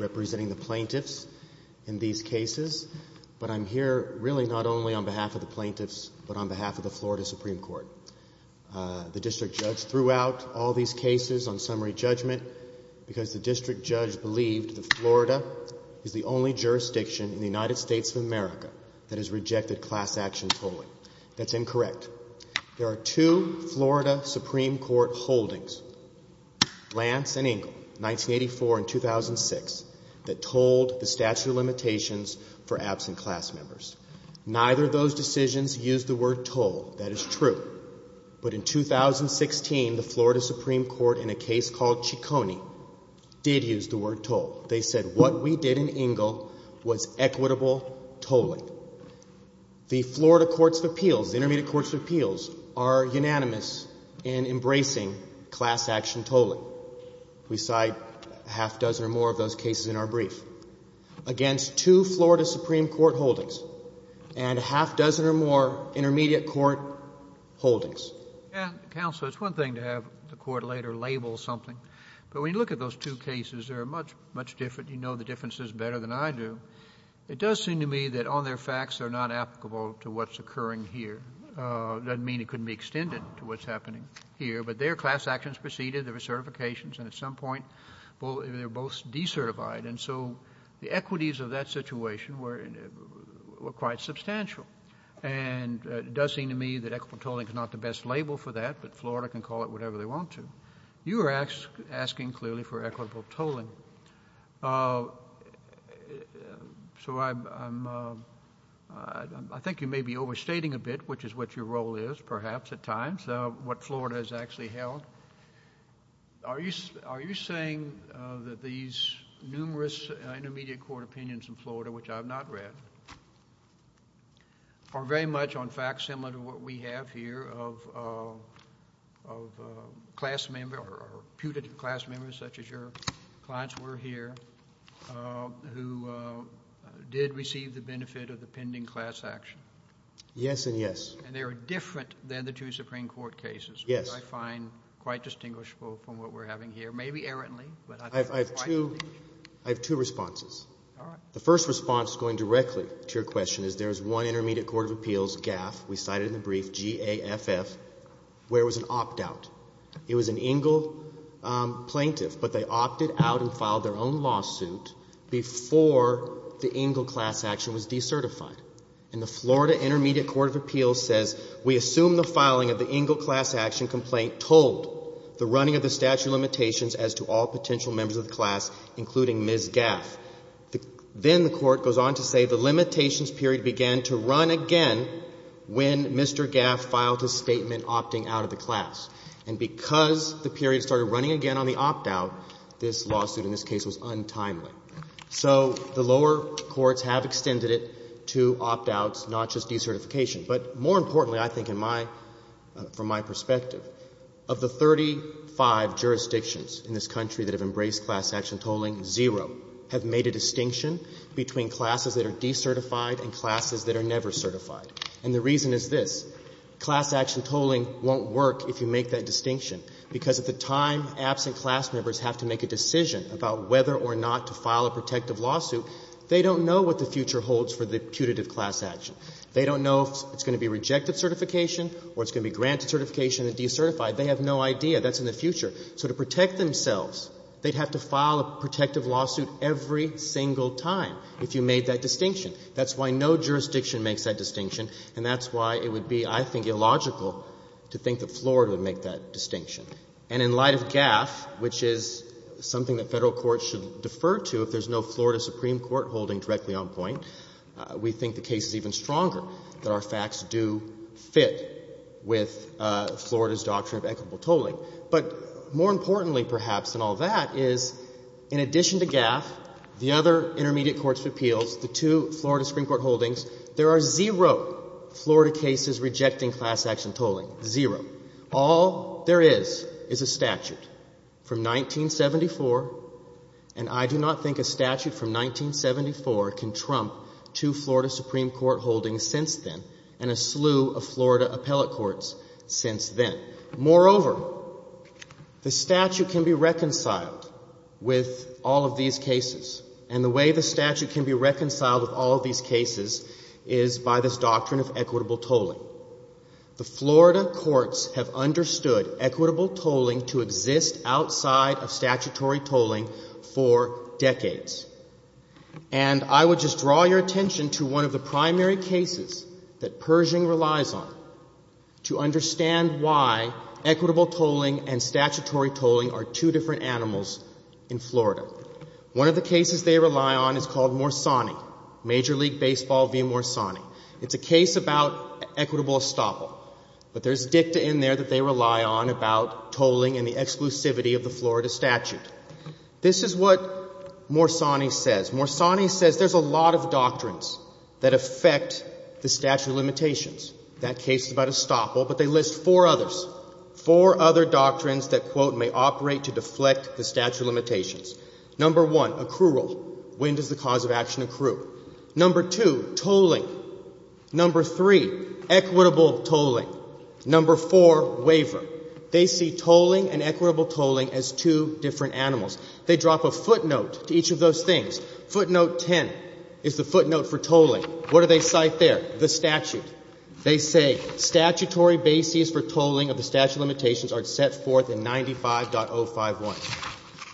representing the plaintiffs in these cases, but I'm here really not only on behalf of the plaintiffs, but on behalf of the Florida Supreme Court. The district judge threw out all these cases on summary judgment because the district judge believed that Florida is the only jurisdiction in the United States of America that has rejected class action polling. That's incorrect. There are two Florida Supreme Court holdings, Lance and Engle, 1984 and 2006, that told the statute of limitations for absent class members. Neither of those decisions used the word toll. That is true. But in 2016, the Florida Supreme Court, in a case called Ciccone, did use the word toll. They said what we did in Engle was equitable tolling. The Florida courts of appeals, the intermediate courts of appeals, are unanimous in embracing class action tolling. We cite a half dozen or more of those cases in our brief. Against two Florida Supreme Court holdings and a half dozen or more intermediate court holdings. Counsel, it's one thing to have the court later label something, but when you look at those two cases, they're much, much different. You know the differences better than I do. But it does seem to me that on their facts, they're not applicable to what's occurring here. Doesn't mean it couldn't be extended to what's happening here. But their class actions preceded the recertifications, and at some point, they were both decertified. And so the equities of that situation were quite substantial. And it does seem to me that equitable tolling is not the best label for that, but Florida can call it whatever they want to. You were asking clearly for equitable tolling. So I think you may be overstating a bit, which is what your role is, perhaps, at times, what Florida has actually held. Are you saying that these numerous intermediate court opinions in Florida, which I have not read, are very much, on fact, similar to what we have here of class member or putative class members, such as your clients were here, who did receive the benefit of the pending class action? Yes and yes. And they were different than the two Supreme Court cases, which I find quite distinguishable from what we're having here, maybe errantly. I have two responses. All right. The first response, going directly to your question, is there is one intermediate court of appeals, GAFF, we cited in the brief, G-A-F-F, where it was an opt-out. It was an Engle plaintiff, but they opted out and filed their own lawsuit before the Engle class action was decertified. And the Florida intermediate court of appeals says, We assume the filing of the Engle class action complaint told the running of the statute of limitations as to all potential members of the class, including Ms. GAFF. Then the Court goes on to say the limitations period began to run again when Mr. GAFF filed his statement opting out of the class. And because the period started running again on the opt-out, this lawsuit in this case was untimely. So the lower courts have extended it to opt-outs, not just decertification. But more importantly, I think in my — from my perspective, of the 35 jurisdictions in this country that have embraced class action tolling, zero have made a distinction between classes that are decertified and classes that are never certified. And the reason is this. Class action tolling won't work if you make that distinction, because at the time absent class members have to make a decision about whether or not to file a protective lawsuit, they don't know what the future holds for the putative class action. They don't know if it's going to be rejected certification or it's going to be granted certification and decertified. They have no idea. That's in the future. So to protect themselves, they'd have to file a protective lawsuit every single time if you made that distinction. That's why no jurisdiction makes that distinction, and that's why it would be, I think, illogical to think that Florida would make that distinction. And in light of GAFF, which is something that Federal courts should defer to if there's no Florida Supreme Court holding directly on point, we think the case is even stronger that our facts do fit with Florida's doctrine of equitable tolling. But more importantly, perhaps, than all that, is in addition to GAFF, the other intermediate courts of appeals, the two Florida Supreme Court holdings, there are zero Florida cases rejecting class action tolling. Zero. All there is is a statute from 1974, and I do not think a statute from 1974 can trump two Florida Supreme Court holdings since then and a slew of Florida appellate courts since then. Moreover, the statute can be reconciled with all of these cases, and the way the statute can be reconciled with all of these cases is by this doctrine of equitable tolling. The Florida courts have understood equitable tolling to exist outside of statutory tolling for decades. And I would just draw your attention to one of the primary cases that Pershing relies on to understand why equitable tolling and statutory tolling are two different animals in Florida. One of the cases they rely on is called Morsani, Major League Baseball v. Morsani. It's a case about equitable estoppel. But there's dicta in there that they rely on about tolling and the exclusivity of the Florida statute. This is what Morsani says. Morsani says there's a lot of doctrines that affect the statute of limitations. That case is about estoppel, but they list four others, four other doctrines that, quote, may operate to deflect the statute of limitations. Number one, accrual. When does the cause of action accrue? Number two, tolling. Number three, equitable tolling. Number four, waiver. They see tolling and equitable tolling as two different animals. They drop a footnote to each of those things. Footnote 10 is the footnote for tolling. What do they cite there? The statute. They say statutory bases for tolling of the statute of limitations are set forth in 95.051.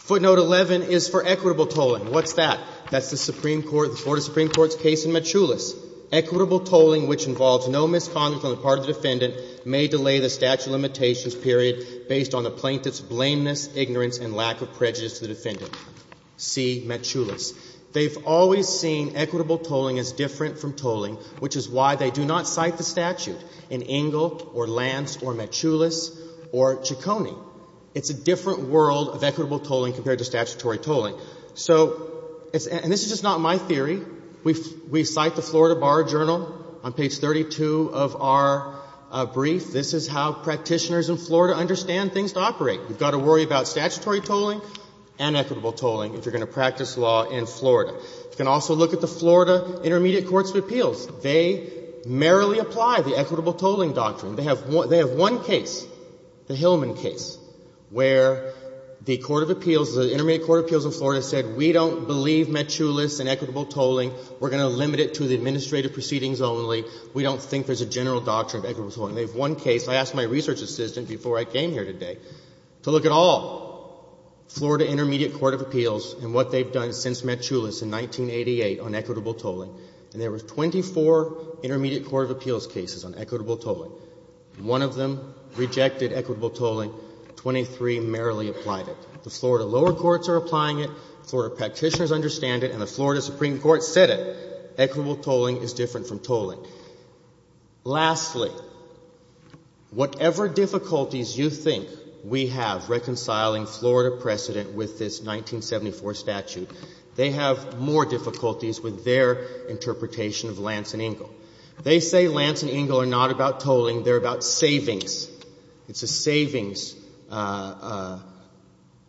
Footnote 11 is for equitable tolling. What's that? That's the Supreme Court, the Board of Supreme Court's case in Metchoulis. Equitable tolling, which involves no misconduct on the part of the defendant, may delay the statute of limitations period based on the plaintiff's blameless ignorance and lack of prejudice to the defendant. See Metchoulis. They've always seen equitable tolling as different from tolling, which is why they do not cite the statute in Engle or Lance or Metchoulis or Ciccone. It's a different world of equitable tolling compared to statutory tolling. So, and this is just not my theory. We cite the Florida Bar Journal on page 32 of our brief. This is how practitioners in Florida understand things to operate. You've got to worry about statutory tolling and equitable tolling if you're going to practice law in Florida. You can also look at the Florida Intermediate Courts of Appeals. They merrily apply the equitable tolling doctrine. The Intermediate Court of Appeals in Florida said we don't believe Metchoulis and equitable tolling. We're going to limit it to the administrative proceedings only. We don't think there's a general doctrine of equitable tolling. They have one case. I asked my research assistant before I came here today to look at all Florida Intermediate Court of Appeals and what they've done since Metchoulis in 1988 on equitable tolling. And there were 24 Intermediate Court of Appeals cases on equitable tolling. One of them rejected equitable tolling. Twenty-three merrily applied it. The Florida lower courts are applying it. Florida practitioners understand it. And the Florida Supreme Court said it. Equitable tolling is different from tolling. Lastly, whatever difficulties you think we have reconciling Florida precedent with this 1974 statute, they have more difficulties with their interpretation of Lance and Engle. They say Lance and Engle are not about tolling. They're about savings. It's a savings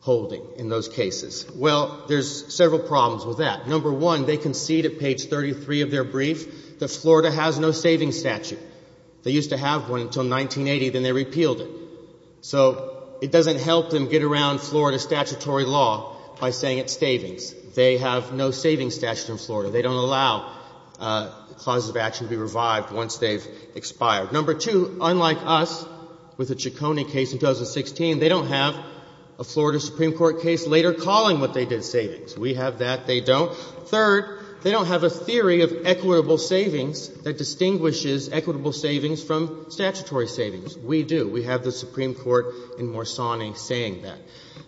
holding in those cases. Well, there's several problems with that. Number one, they concede at page 33 of their brief that Florida has no savings statute. They used to have one until 1980, then they repealed it. So it doesn't help them get around Florida statutory law by saying it's savings. They have no savings statute in Florida. They don't allow clauses of action to be revived once they've expired. Number two, unlike us with the Ciccone case in 2016, they don't have a Florida Supreme Court case later calling what they did savings. We have that. They don't. Third, they don't have a theory of equitable savings that distinguishes equitable savings from statutory savings. We do. We have the Supreme Court in Morsani saying that.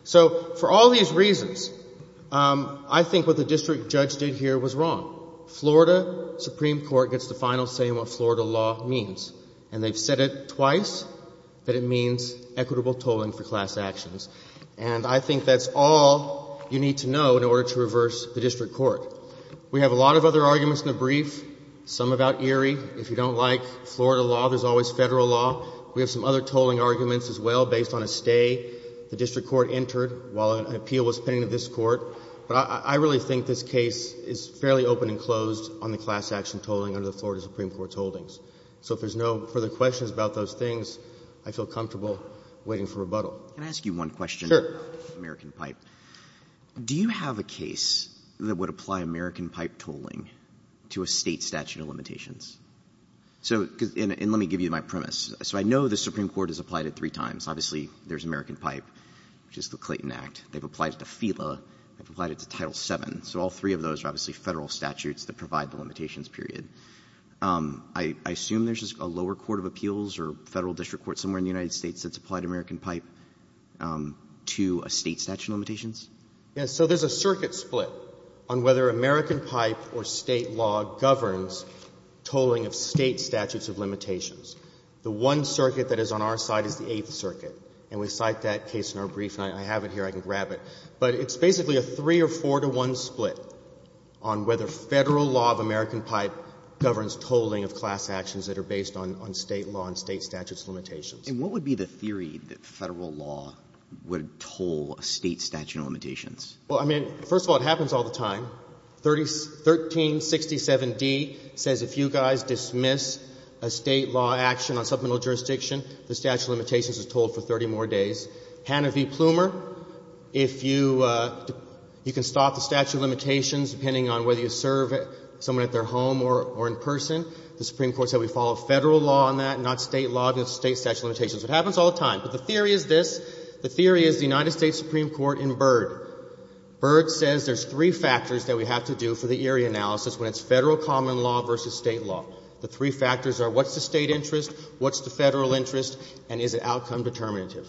So for all these reasons, I think what the district judge did here was wrong. Florida Supreme Court gets the final say in what Florida law means. And they've said it twice, that it means equitable tolling for class actions. And I think that's all you need to know in order to reverse the district court. We have a lot of other arguments in the brief, some about Erie. If you don't like Florida law, there's always federal law. We have some other tolling arguments as well based on a stay the district court entered while an appeal was pending of this court. But I really think this case is fairly open and closed on the class action tolling under the Florida Supreme Court's holdings. So if there's no further questions about those things, I feel comfortable waiting for rebuttal. Can I ask you one question? Sure. American Pipe. Do you have a case that would apply American Pipe tolling to a state statute of limitations? And let me give you my premise. So I know the Supreme Court has applied it three times. Obviously, there's American Pipe, which is the Clayton Act. They've applied it to FELA. They've applied it to Title VII. So all three of those are obviously Federal statutes that provide the limitations, period. I assume there's a lower court of appeals or Federal district court somewhere in the United States that's applied American Pipe to a state statute of limitations? Yes. So there's a circuit split on whether American Pipe or State law governs tolling of State statutes of limitations. The one circuit that is on our side is the Eighth Circuit. And we cite that case in our brief. And I have it here. I can grab it. But it's basically a three- or four-to-one split on whether Federal law of American Pipe governs tolling of class actions that are based on State law and State statutes of limitations. And what would be the theory that Federal law would toll a State statute of limitations? Well, I mean, first of all, it happens all the time. 1367d says if you guys dismiss a State law action on supplemental jurisdiction, the statute of limitations is tolled for 30 more days. Hannah v. Plumer, if you can stop the statute of limitations depending on whether you serve someone at their home or in person, the Supreme Court said we follow Federal law on that, not State law on the State statute of limitations. It happens all the time. But the theory is this. The theory is the United States Supreme Court in Byrd. Byrd says there's three factors that we have to do for the Erie analysis when it's Federal common law versus State law. The three factors are what's the State interest, what's the Federal interest, and is it outcome determinative.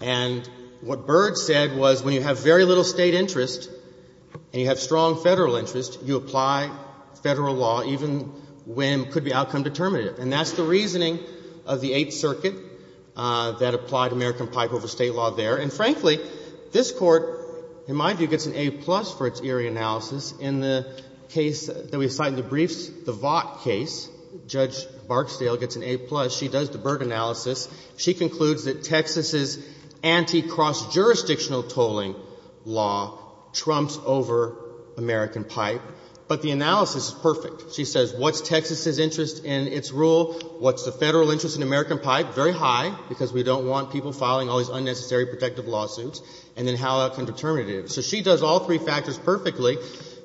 And what Byrd said was when you have very little State interest and you have strong Federal interest, you apply Federal law even when it could be outcome determinative. And that's the reasoning of the Eighth Circuit that applied American pipe over State law there. And, frankly, this Court, in my view, gets an A-plus for its Erie analysis. In the case that we cite in the briefs, the Vought case, Judge Barksdale gets an A-plus. She does the Byrd analysis. She concludes that Texas's anti-cross-jurisdictional tolling law trumps over American pipe, but the analysis is perfect. She says what's Texas's interest in its rule, what's the Federal interest in American pipe, very high, because we don't want people filing all these unnecessary protective lawsuits, and then how outcome determinative. So she does all three factors perfectly.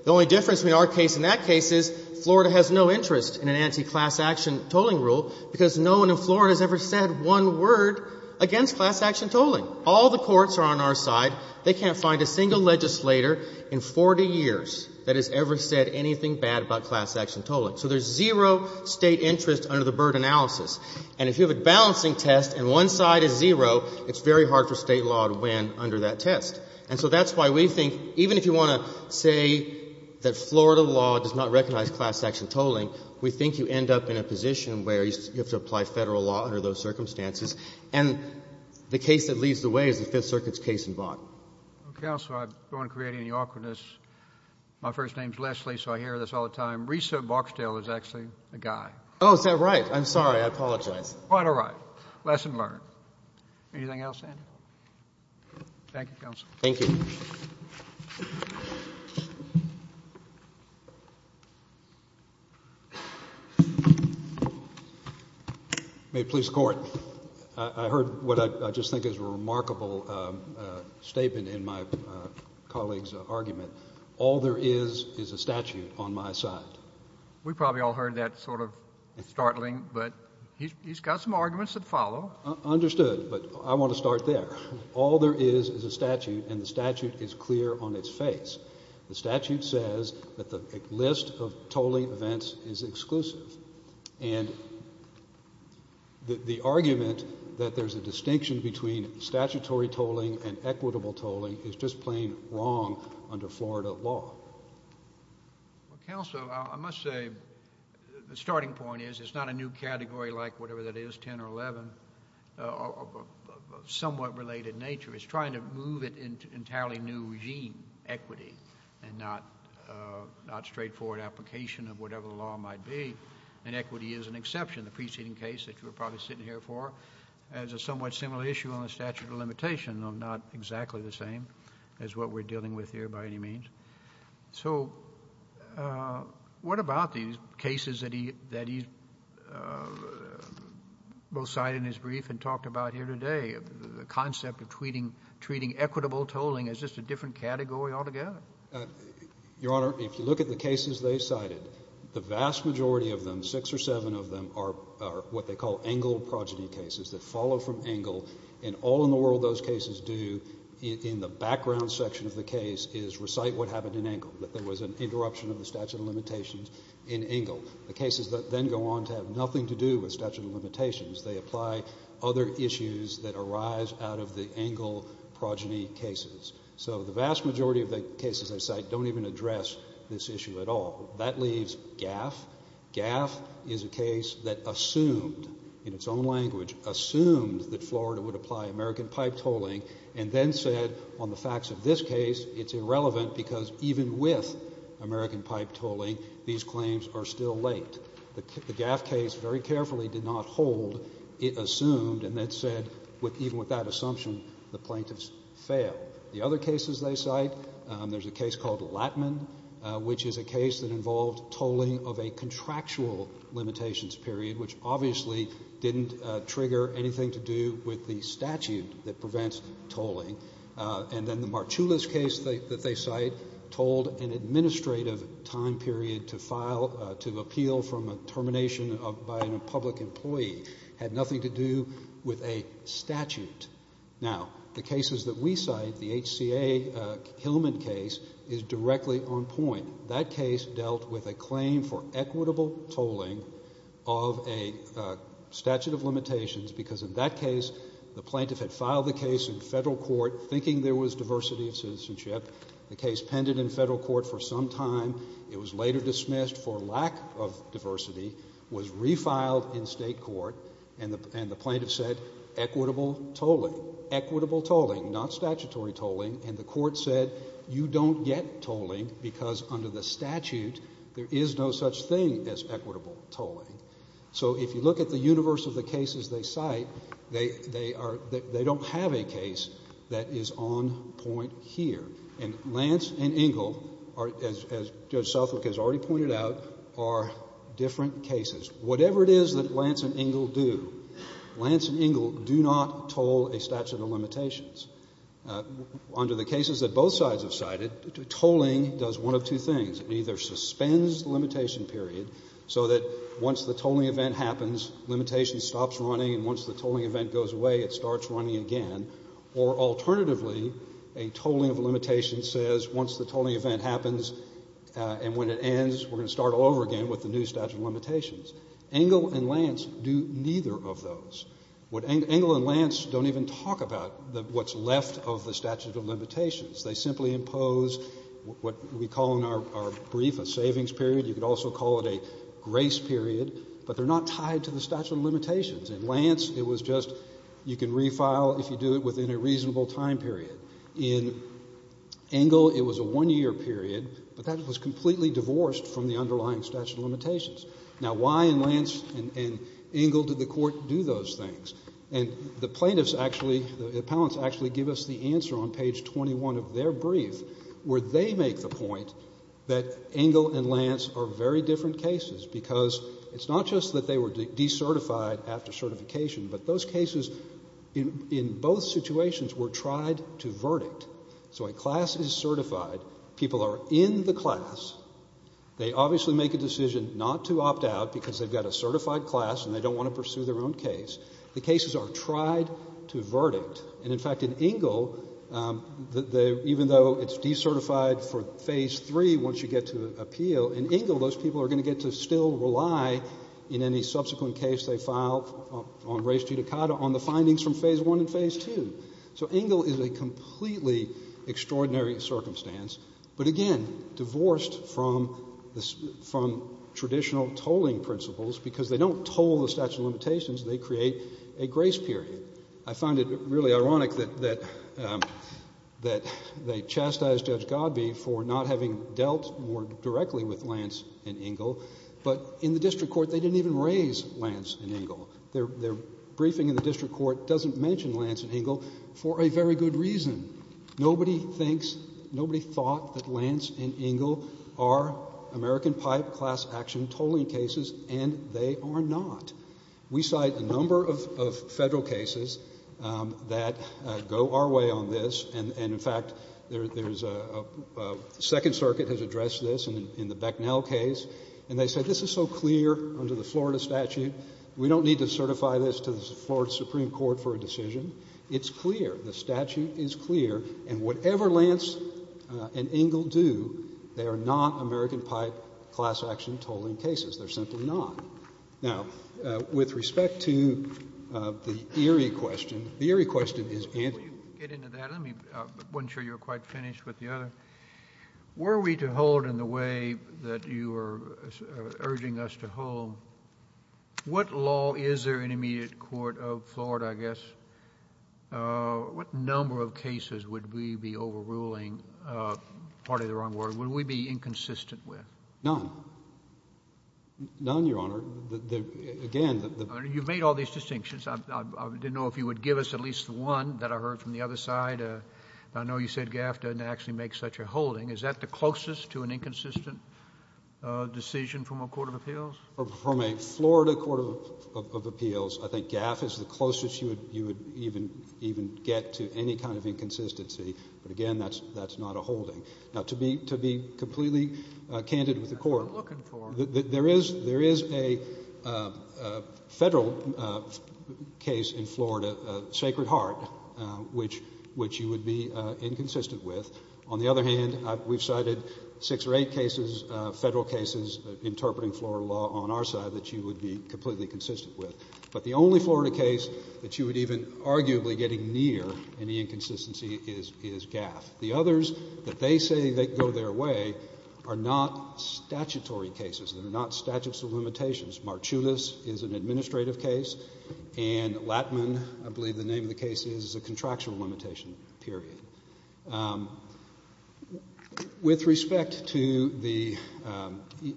The only difference between our case and that case is Florida has no interest in an anti-class-action tolling rule because no one in Florida has ever said one word against class-action tolling. All the courts are on our side. They can't find a single legislator in 40 years that has ever said anything bad about class-action tolling. So there's zero State interest under the Byrd analysis. And if you have a balancing test and one side is zero, it's very hard for State law to win under that test. And so that's why we think, even if you want to say that Florida law does not recognize anti-class-action tolling, we think you end up in a position where you have to apply Federal law under those circumstances. And the case that leads the way is the Fifth Circuit's case in Vaught. Counsel, I don't want to create any awkwardness. My first name is Leslie, so I hear this all the time. Risa Boxdale is actually a guy. Oh, is that right? I'm sorry. I apologize. Quite all right. Lesson learned. Anything else, Andrew? Thank you, counsel. Thank you. May it please the Court. I heard what I just think is a remarkable statement in my colleague's argument. All there is is a statute on my side. We probably all heard that sort of startling, but he's got some arguments that follow. Understood. But I want to start there. All there is is a statute, and the statute is clear on its face. The statute says that the list of tolling events is exclusive, and the argument that there's a distinction between statutory tolling and equitable tolling is just plain wrong under Florida law. Counsel, I must say the starting point is it's not a new category like whatever that is, 10 or 11, of somewhat related nature. It's trying to move it into an entirely new regime, equity, and not straightforward application of whatever the law might be, and equity is an exception. The preceding case that you're probably sitting here for has a somewhat similar issue on the statute of limitation, though not exactly the same as what we're dealing with here by any means. So what about these cases that he both cited in his brief and talked about here today, the concept of treating equitable tolling as just a different category altogether? Your Honor, if you look at the cases they cited, the vast majority of them, six or seven of them, are what they call Engle progeny cases that follow from Engle, and all in the world those cases do in the background section of the case is recite what happened in Engle, that there was an interruption of the statute of limitations in Engle. They apply other issues that arise out of the Engle progeny cases. So the vast majority of the cases they cite don't even address this issue at all. That leaves GAF. GAF is a case that assumed, in its own language, assumed that Florida would apply American pipe tolling and then said on the facts of this case it's irrelevant because even with American pipe tolling these claims are still late. The GAF case very carefully did not hold. It assumed and then said even with that assumption the plaintiffs failed. The other cases they cite, there's a case called Lattman, which is a case that involved tolling of a contractual limitations period, which obviously didn't trigger anything to do with the statute that prevents tolling. And then the Marchullis case that they cite told an administrative time period to appeal from a termination by a public employee. It had nothing to do with a statute. Now, the cases that we cite, the HCA Hillman case, is directly on point. That case dealt with a claim for equitable tolling of a statute of limitations because in that case the plaintiff had filed the case in federal court thinking there was diversity of citizenship. The case pended in federal court for some time. It was later dismissed for lack of diversity, was refiled in state court, and the plaintiff said equitable tolling, equitable tolling, not statutory tolling, and the court said you don't get tolling because under the statute there is no such thing as equitable tolling. So if you look at the universe of the cases they cite, they don't have a case that is on point here. And Lance and Engle, as Judge Southwick has already pointed out, are different cases. Whatever it is that Lance and Engle do, Lance and Engle do not toll a statute of limitations. Under the cases that both sides have cited, tolling does one of two things. It either suspends the limitation period so that once the tolling event happens, limitation stops running and once the tolling event goes away, it starts running again. Or alternatively, a tolling of a limitation says once the tolling event happens and when it ends, we're going to start all over again with the new statute of limitations. Engle and Lance do neither of those. Engle and Lance don't even talk about what's left of the statute of limitations. They simply impose what we call in our brief a savings period. You could also call it a grace period, but they're not tied to the statute of limitations. In Lance, it was just you can refile if you do it within a reasonable time period. In Engle, it was a one-year period, but that was completely divorced from the underlying statute of limitations. Now, why in Lance and Engle did the court do those things? And the plaintiffs actually, the appellants actually give us the answer on page 21 of their brief where they make the point that Engle and Lance are very different cases because it's not just that they were decertified after certification, but those cases in both situations were tried to verdict. So a class is certified. People are in the class. They obviously make a decision not to opt out because they've got a certified class and they don't want to pursue their own case. The cases are tried to verdict. And, in fact, in Engle, even though it's decertified for phase 3 once you get to appeal, in Engle those people are going to get to still rely in any subsequent case they file on res judicata on the findings from phase 1 and phase 2. So Engle is a completely extraordinary circumstance, but, again, divorced from traditional tolling principles because they don't toll the statute of limitations. They create a grace period. I find it really ironic that they chastise Judge Godbee for not having dealt more directly with Lance and Engle, but in the district court they didn't even raise Lance and Engle. Their briefing in the district court doesn't mention Lance and Engle for a very good reason. Nobody thinks, nobody thought that Lance and Engle are American pipe class action tolling cases, and they are not. We cite a number of federal cases that go our way on this, and, in fact, there's a second circuit has addressed this in the Becknell case, and they said this is so clear under the Florida statute. We don't need to certify this to the Florida Supreme Court for a decision. It's clear. The statute is clear, and whatever Lance and Engle do, they are not American pipe class action tolling cases. They're simply not. Now, with respect to the Erie question, the Erie question is answered. Let me get into that. I wasn't sure you were quite finished with the other. Were we to hold in the way that you were urging us to hold, what law is there in immediate court of Florida, I guess? What number of cases would we be overruling, pardon the wrong word, would we be inconsistent with? None. None, Your Honor. Again, the ---- You've made all these distinctions. I didn't know if you would give us at least one that I heard from the other side. I know you said GAF doesn't actually make such a holding. Is that the closest to an inconsistent decision from a court of appeals? From a Florida court of appeals, I think GAF is the closest you would even get to any kind of inconsistency. But, again, that's not a holding. Now, to be completely candid with the court, there is a federal case in Florida, Sacred Heart, which you would be inconsistent with. On the other hand, we've cited six or eight cases, federal cases, interpreting Florida law on our side that you would be completely consistent with. But the only Florida case that you would even arguably getting near any inconsistency is GAF. The others that they say they go their way are not statutory cases. They're not statutes of limitations. Marchulis is an administrative case. And Lattman, I believe the name of the case is, is a contractual limitation, period. With respect to the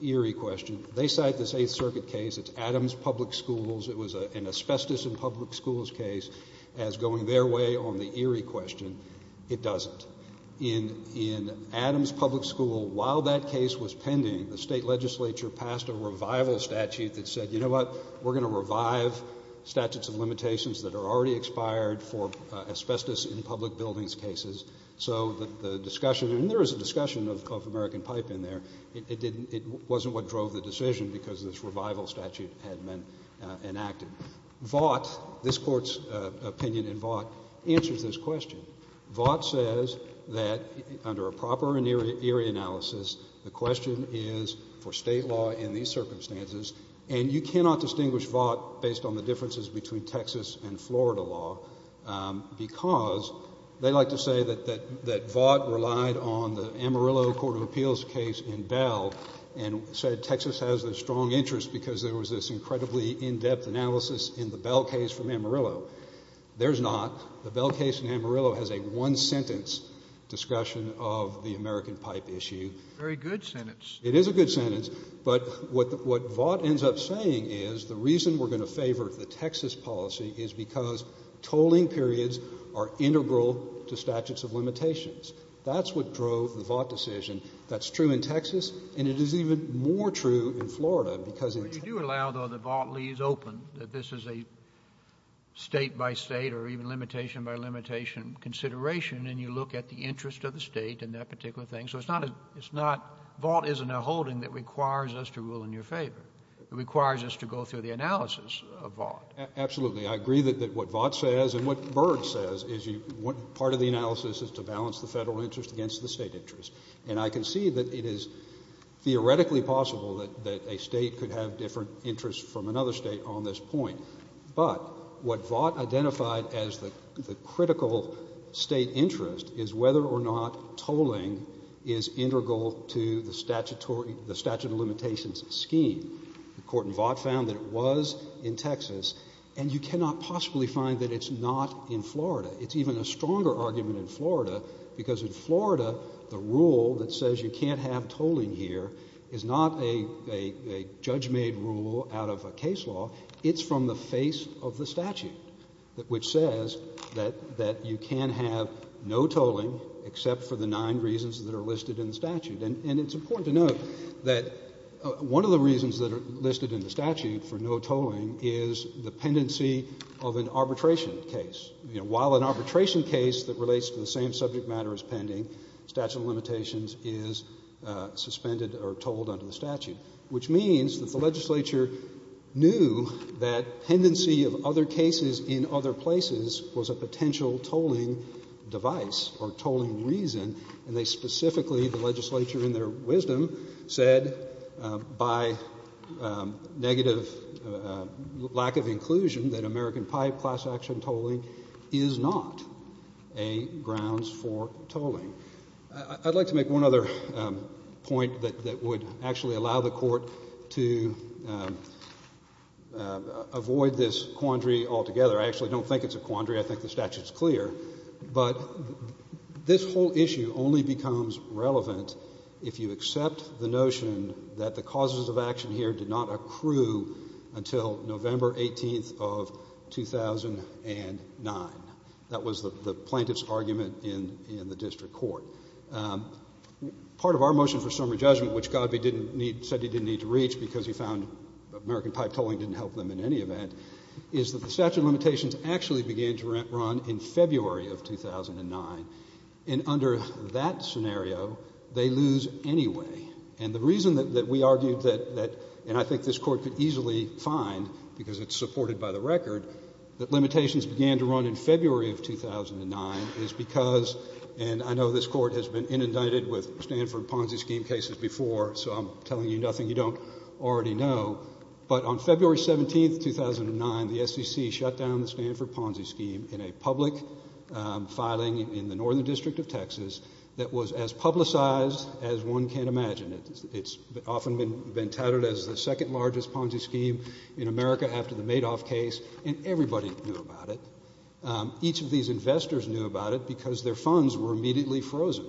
Erie question, they cite this Eighth Circuit case. It's Adams Public Schools. It was an asbestos in public schools case as going their way on the Erie question. It doesn't. In Adams Public School, while that case was pending, the state legislature passed a revival statute that said, you know what? We're going to revive statutes of limitations that are already expired for asbestos in public buildings cases. So the discussion, and there was a discussion of American Pipe in there, it wasn't what drove the decision because this revival statute had been enacted. Vought, this Court's opinion in Vought, answers this question. Vought says that under a proper Erie analysis, the question is for state law in these circumstances. And you cannot distinguish Vought based on the differences between Texas and Florida law because they like to say that Vought relied on the Amarillo Court of Appeals case in Bell and said Texas has a strong interest because there was this incredibly in-depth analysis in the Bell case from Amarillo. There's not. The Bell case in Amarillo has a one-sentence discussion of the American Pipe issue. Very good sentence. It is a good sentence. But what Vought ends up saying is the reason we're going to favor the Texas policy is because tolling periods are integral to statutes of limitations. That's what drove the Vought decision. That's true in Texas, and it is even more true in Florida because in Texas you have to be able to toll periods. But you do allow, though, that Vought leaves open that this is a State-by-State or even limitation-by-limitation consideration, and you look at the interest of the State in that particular thing. So it's not — it's not — Vought isn't a holding that requires us to rule in your favor. It requires us to go through the analysis of Vought. Absolutely. I agree that what Vought says and what Berg says is you — part of the analysis is to balance the Federal interest against the State interest. And I can see that it is theoretically possible that a State could have different interests from another State on this point. But what Vought identified as the critical State interest is whether or not tolling is integral to the statutory — the statute of limitations scheme. The court in Vought found that it was in Texas, and you cannot possibly find that it's not in Florida. It's even a stronger argument in Florida because in Florida the rule that says you can't have tolling here is not a judge-made rule out of a case law. It's from the face of the statute, which says that you can have no tolling except for the nine reasons that are listed in the statute. And it's important to note that one of the reasons that are listed in the statute for no tolling is the pendency of an arbitration case. You know, while an arbitration case that relates to the same subject matter is pending, statute of limitations is suspended or tolled under the statute, which means that the legislature knew that pendency of other cases in other places was a potential tolling device or tolling reason. And they specifically, the legislature in their wisdom, said by negative lack of inclusion that American Pipe class action tolling is not a grounds for tolling. I'd like to make one other point that would actually allow the Court to avoid this quandary altogether. I actually don't think it's a quandary. I think the statute is clear. But this whole issue only becomes relevant if you accept the notion that the causes of action here did not accrue until November 18th of 2009. That was the plaintiff's argument in the district court. Part of our motion for summary judgment, which Godfrey said he didn't need to reach because he found American Pipe tolling didn't help them in any event, is that the statute of limitations actually began to run in February of 2009. And under that scenario, they lose anyway. And the reason that we argued that, and I think this Court could easily find because it's supported by the record, that limitations began to run in February of 2009 is because, and I know this Court has been inundated with Stanford Ponzi scheme cases before, so I'm telling you nothing you don't already know, but on February 17th, 2009, the SEC shut down the Stanford Ponzi scheme in a public filing in the northern district of Texas that was as publicized as one can imagine. It's often been touted as the second largest Ponzi scheme in America after the Madoff case, and everybody knew about it. Each of these investors knew about it because their funds were immediately frozen.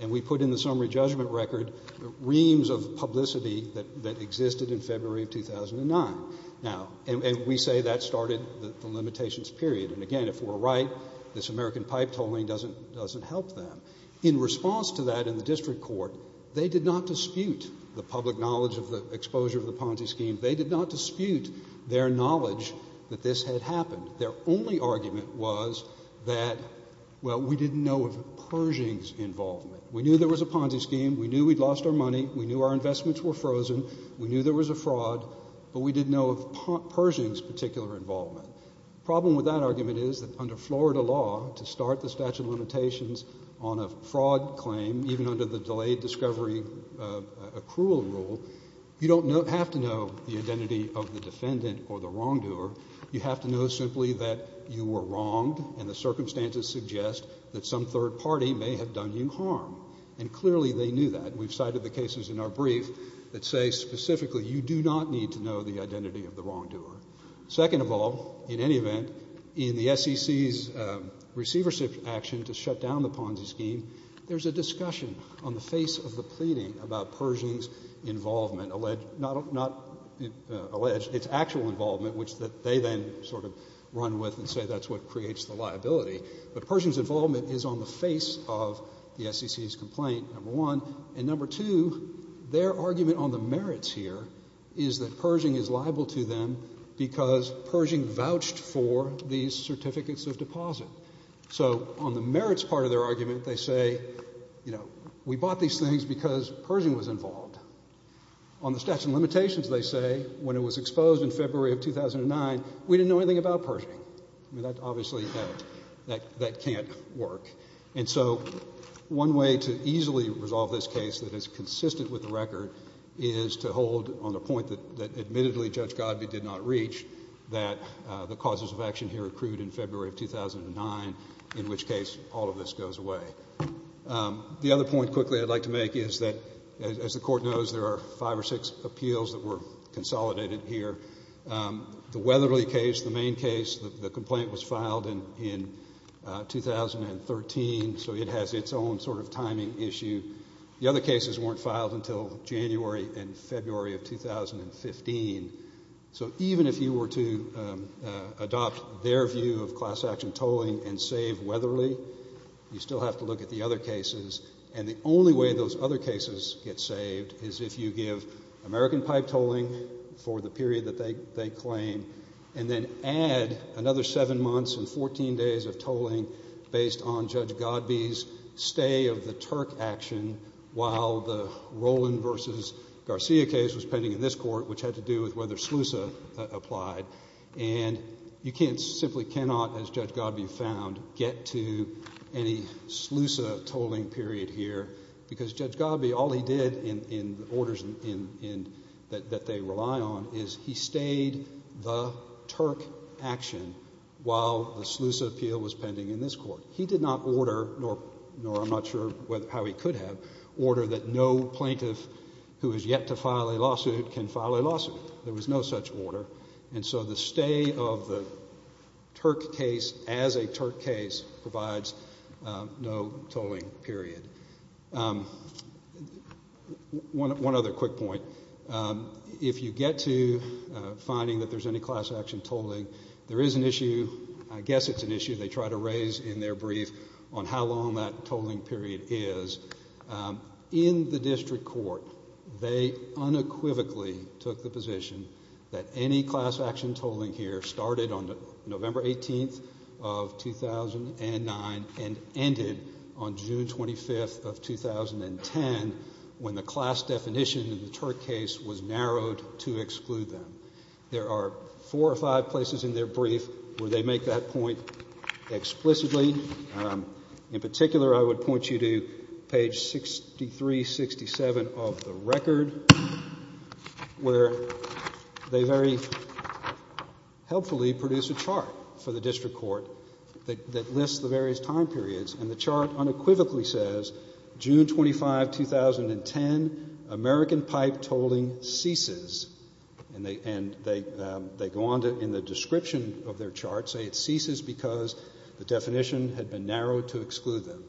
And we put in the summary judgment record reams of publicity that existed in February of 2009. Now, and we say that started the limitations period. And again, if we're right, this American Pipe tolling doesn't help them. In response to that in the district court, they did not dispute the public knowledge of the exposure of the Ponzi scheme. They did not dispute their knowledge that this had happened. Their only argument was that, well, we didn't know of Pershing's involvement. We knew there was a Ponzi scheme. We knew we'd lost our money. We knew our investments were frozen. We knew there was a fraud, but we didn't know of Pershing's particular involvement. The problem with that argument is that under Florida law, to start the statute of limitations on a fraud claim, even under the delayed discovery accrual rule, you don't have to know the identity of the defendant or the wrongdoer. You have to know simply that you were wronged and the circumstances suggest that some third party may have done you harm. And clearly they knew that. We've cited the cases in our brief that say specifically you do not need to know the identity of the wrongdoer. Second of all, in any event, in the SEC's receiver action to shut down the Ponzi scheme, there's a discussion on the face of the pleading about Pershing's involvement, not alleged, it's actual involvement, which they then sort of run with and say that's what creates the liability. But Pershing's involvement is on the face of the SEC's complaint, number one, and number two, their argument on the merits here is that Pershing is liable to them because Pershing vouched for these certificates of deposit. So on the merits part of their argument, they say, you know, we bought these things because Pershing was involved. On the statute of limitations, they say when it was exposed in February of 2009, we didn't know anything about Pershing. I mean, that obviously, that can't work. And so one way to easily resolve this case that is consistent with the record is to hold on the point that admittedly Judge Godbee did not reach that the causes of action here accrued in February of 2009, in which case all of this goes away. The other point quickly I'd like to make is that, as the Court knows, there are five or six appeals that were consolidated here. The Weatherly case, the main case, the complaint was filed in 2013, so it has its own sort of timing issue. The other cases weren't filed until January and February of 2015. So even if you were to adopt their view of class action tolling and save Weatherly, you still have to look at the other cases. And the only way those other cases get saved is if you give American pipe tolling for the period that they claim and then add another seven months and 14 days of tolling based on Judge Godbee's stay of the Turk action while the Roland v. Garcia case was pending in this Court, which had to do with whether SLUSA applied. And you simply cannot, as Judge Godbee found, get to any SLUSA tolling period here because Judge Godbee, all he did in the orders that they rely on is he stayed the Turk action while the SLUSA appeal was pending in this Court. He did not order, nor I'm not sure how he could have, order that no plaintiff who is yet to file a lawsuit can file a lawsuit. There was no such order. And so the stay of the Turk case as a Turk case provides no tolling period. One other quick point. If you get to finding that there's any class action tolling, there is an issue, I guess it's an issue, they try to raise in their brief on how long that tolling period is. In the district court, they unequivocally took the position that any class action tolling here started on November 18th of 2009 and ended on June 25th of 2010 when the class definition in the Turk case was narrowed to exclude them. There are four or five places in their brief where they make that point explicitly. In particular, I would point you to page 6367 of the record where they very helpfully produce a chart for the district court that lists the various time periods, and the chart unequivocally says June 25, 2010, American pipe tolling ceases and they go on to, in the description of their chart, say it ceases because the definition had been narrowed to exclude them.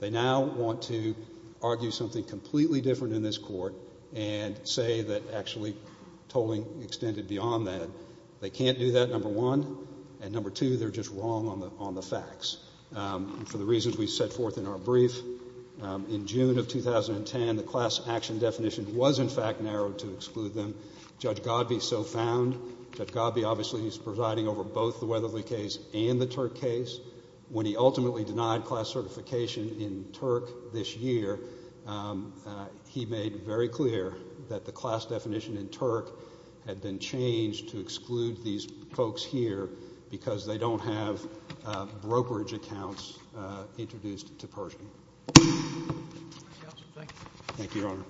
They now want to argue something completely different in this court and say that actually tolling extended beyond that. They can't do that, number one. And number two, they're just wrong on the facts. For the reasons we set forth in our brief, in June of 2010, the class action definition was in fact narrowed to exclude them. Judge Godby so found. Judge Godby obviously is presiding over both the Weatherly case and the Turk case. When he ultimately denied class certification in Turk this year, he made very clear that the class definition in Turk had been changed to exclude these folks here because they don't have brokerage accounts introduced to Pershing. Thank you, Your Honor.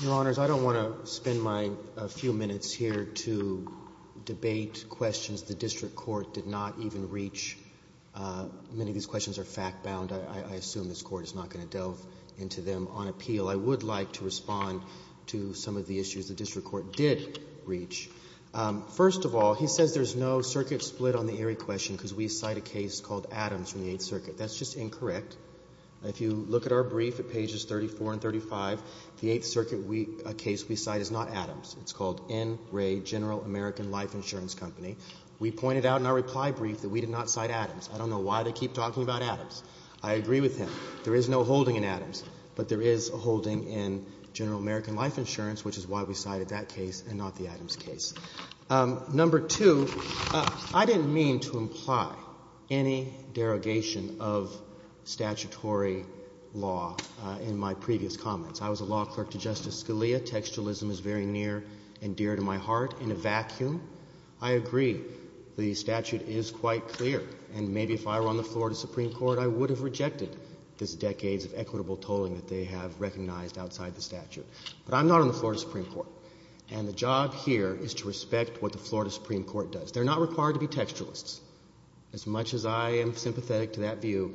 Your Honors, I don't want to spend my few minutes here to debate questions the district court did not even reach. Many of these questions are fact bound. I assume this Court is not going to delve into them on appeal. I would like to respond to some of the issues the district court did reach. First of all, he says there's no circuit split on the Erie question because we cite a case called Adams from the Eighth Circuit. That's just incorrect. If you look at our brief at pages 34 and 35, the Eighth Circuit, a case we cite is not Adams. It's called N. Ray General American Life Insurance Company. We pointed out in our reply brief that we did not cite Adams. I don't know why they keep talking about Adams. I agree with him. There is no holding in Adams, but there is a holding in General American Life Insurance, which is why we cited that case and not the Adams case. Number two, I didn't mean to imply any derogation of statutory law in my previous comments. I was a law clerk to Justice Scalia. Textualism is very near and dear to my heart. I agree the statute is quite clear, and maybe if I were on the Florida Supreme Court, I would have rejected this decades of equitable tolling that they have recognized outside the statute. But I'm not on the Florida Supreme Court, and the job here is to respect what the Florida Supreme Court does. They're not required to be textualists. As much as I am sympathetic to that view,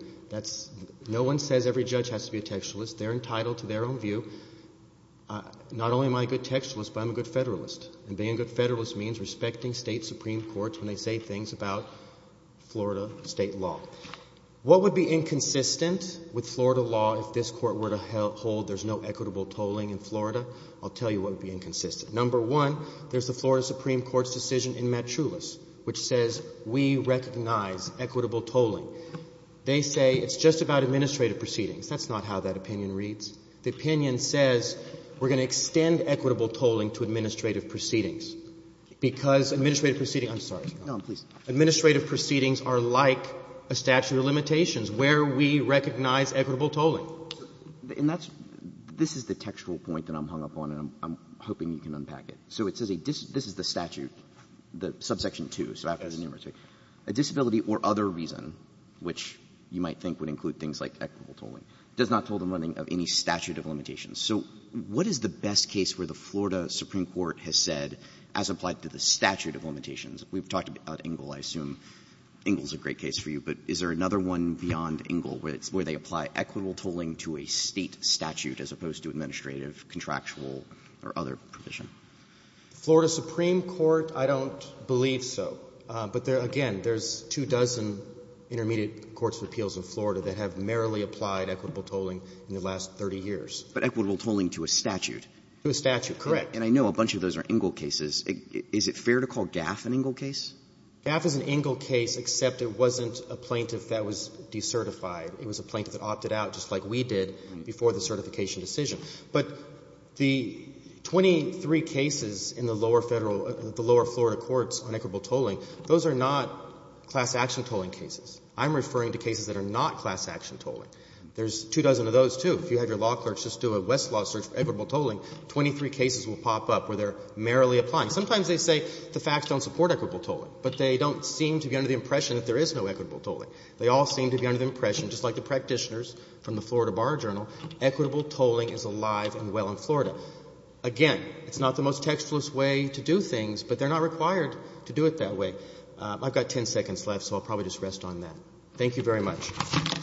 no one says every judge has to be a textualist. They're entitled to their own view. Not only am I a good textualist, but I'm a good Federalist, and being a good Federalist means respecting state Supreme Courts when they say things about Florida state law. What would be inconsistent with Florida law if this court were to hold there's no equitable tolling in Florida? I'll tell you what would be inconsistent. Number one, there's the Florida Supreme Court's decision in Matt Chulas, which says we recognize equitable tolling. They say it's just about administrative proceedings. That's not how that opinion reads. The opinion says we're going to extend equitable tolling to administrative proceedings because administrative proceedings are like a statute of limitations where we recognize equitable tolling. And this is the textual point that I'm hung up on, and I'm hoping you can unpack it. So it says this is the statute, the subsection 2, so after the numeracy. A disability or other reason, which you might think would include things like equitable tolling, does not toll the money of any statute of limitations. So what is the best case where the Florida Supreme Court has said as applied to the statute of limitations? We've talked about Engle. I assume Engle's a great case for you, but is there another one beyond Engle where they apply equitable tolling to a state statute as opposed to administrative, contractual, or other provision? Florida Supreme Court, I don't believe so. But, again, there's two dozen intermediate courts of appeals in Florida that have merrily applied equitable tolling in the last 30 years. But equitable tolling to a statute. To a statute, correct. And I know a bunch of those are Engle cases. Is it fair to call Gaff an Engle case? Gaff is an Engle case, except it wasn't a plaintiff that was decertified. It was a plaintiff that opted out just like we did before the certification decision. But the 23 cases in the lower Federal or the lower Florida courts on equitable tolling, those are not class action tolling cases. I'm referring to cases that are not class action tolling. There's two dozen of those, too. If you had your law clerks just do a Westlaw search for equitable tolling, 23 cases will pop up where they're merrily applying. Sometimes they say the facts don't support equitable tolling, but they don't seem to be under the impression that there is no equitable tolling. They all seem to be under the impression, just like the practitioners from the Florida Bar Journal, equitable tolling is alive and well in Florida. Again, it's not the most textless way to do things, but they're not required to do it that way. I've got ten seconds left, so I'll probably just rest on that. Thank you very much. Roberts.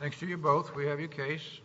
Thanks to you both. We have your case.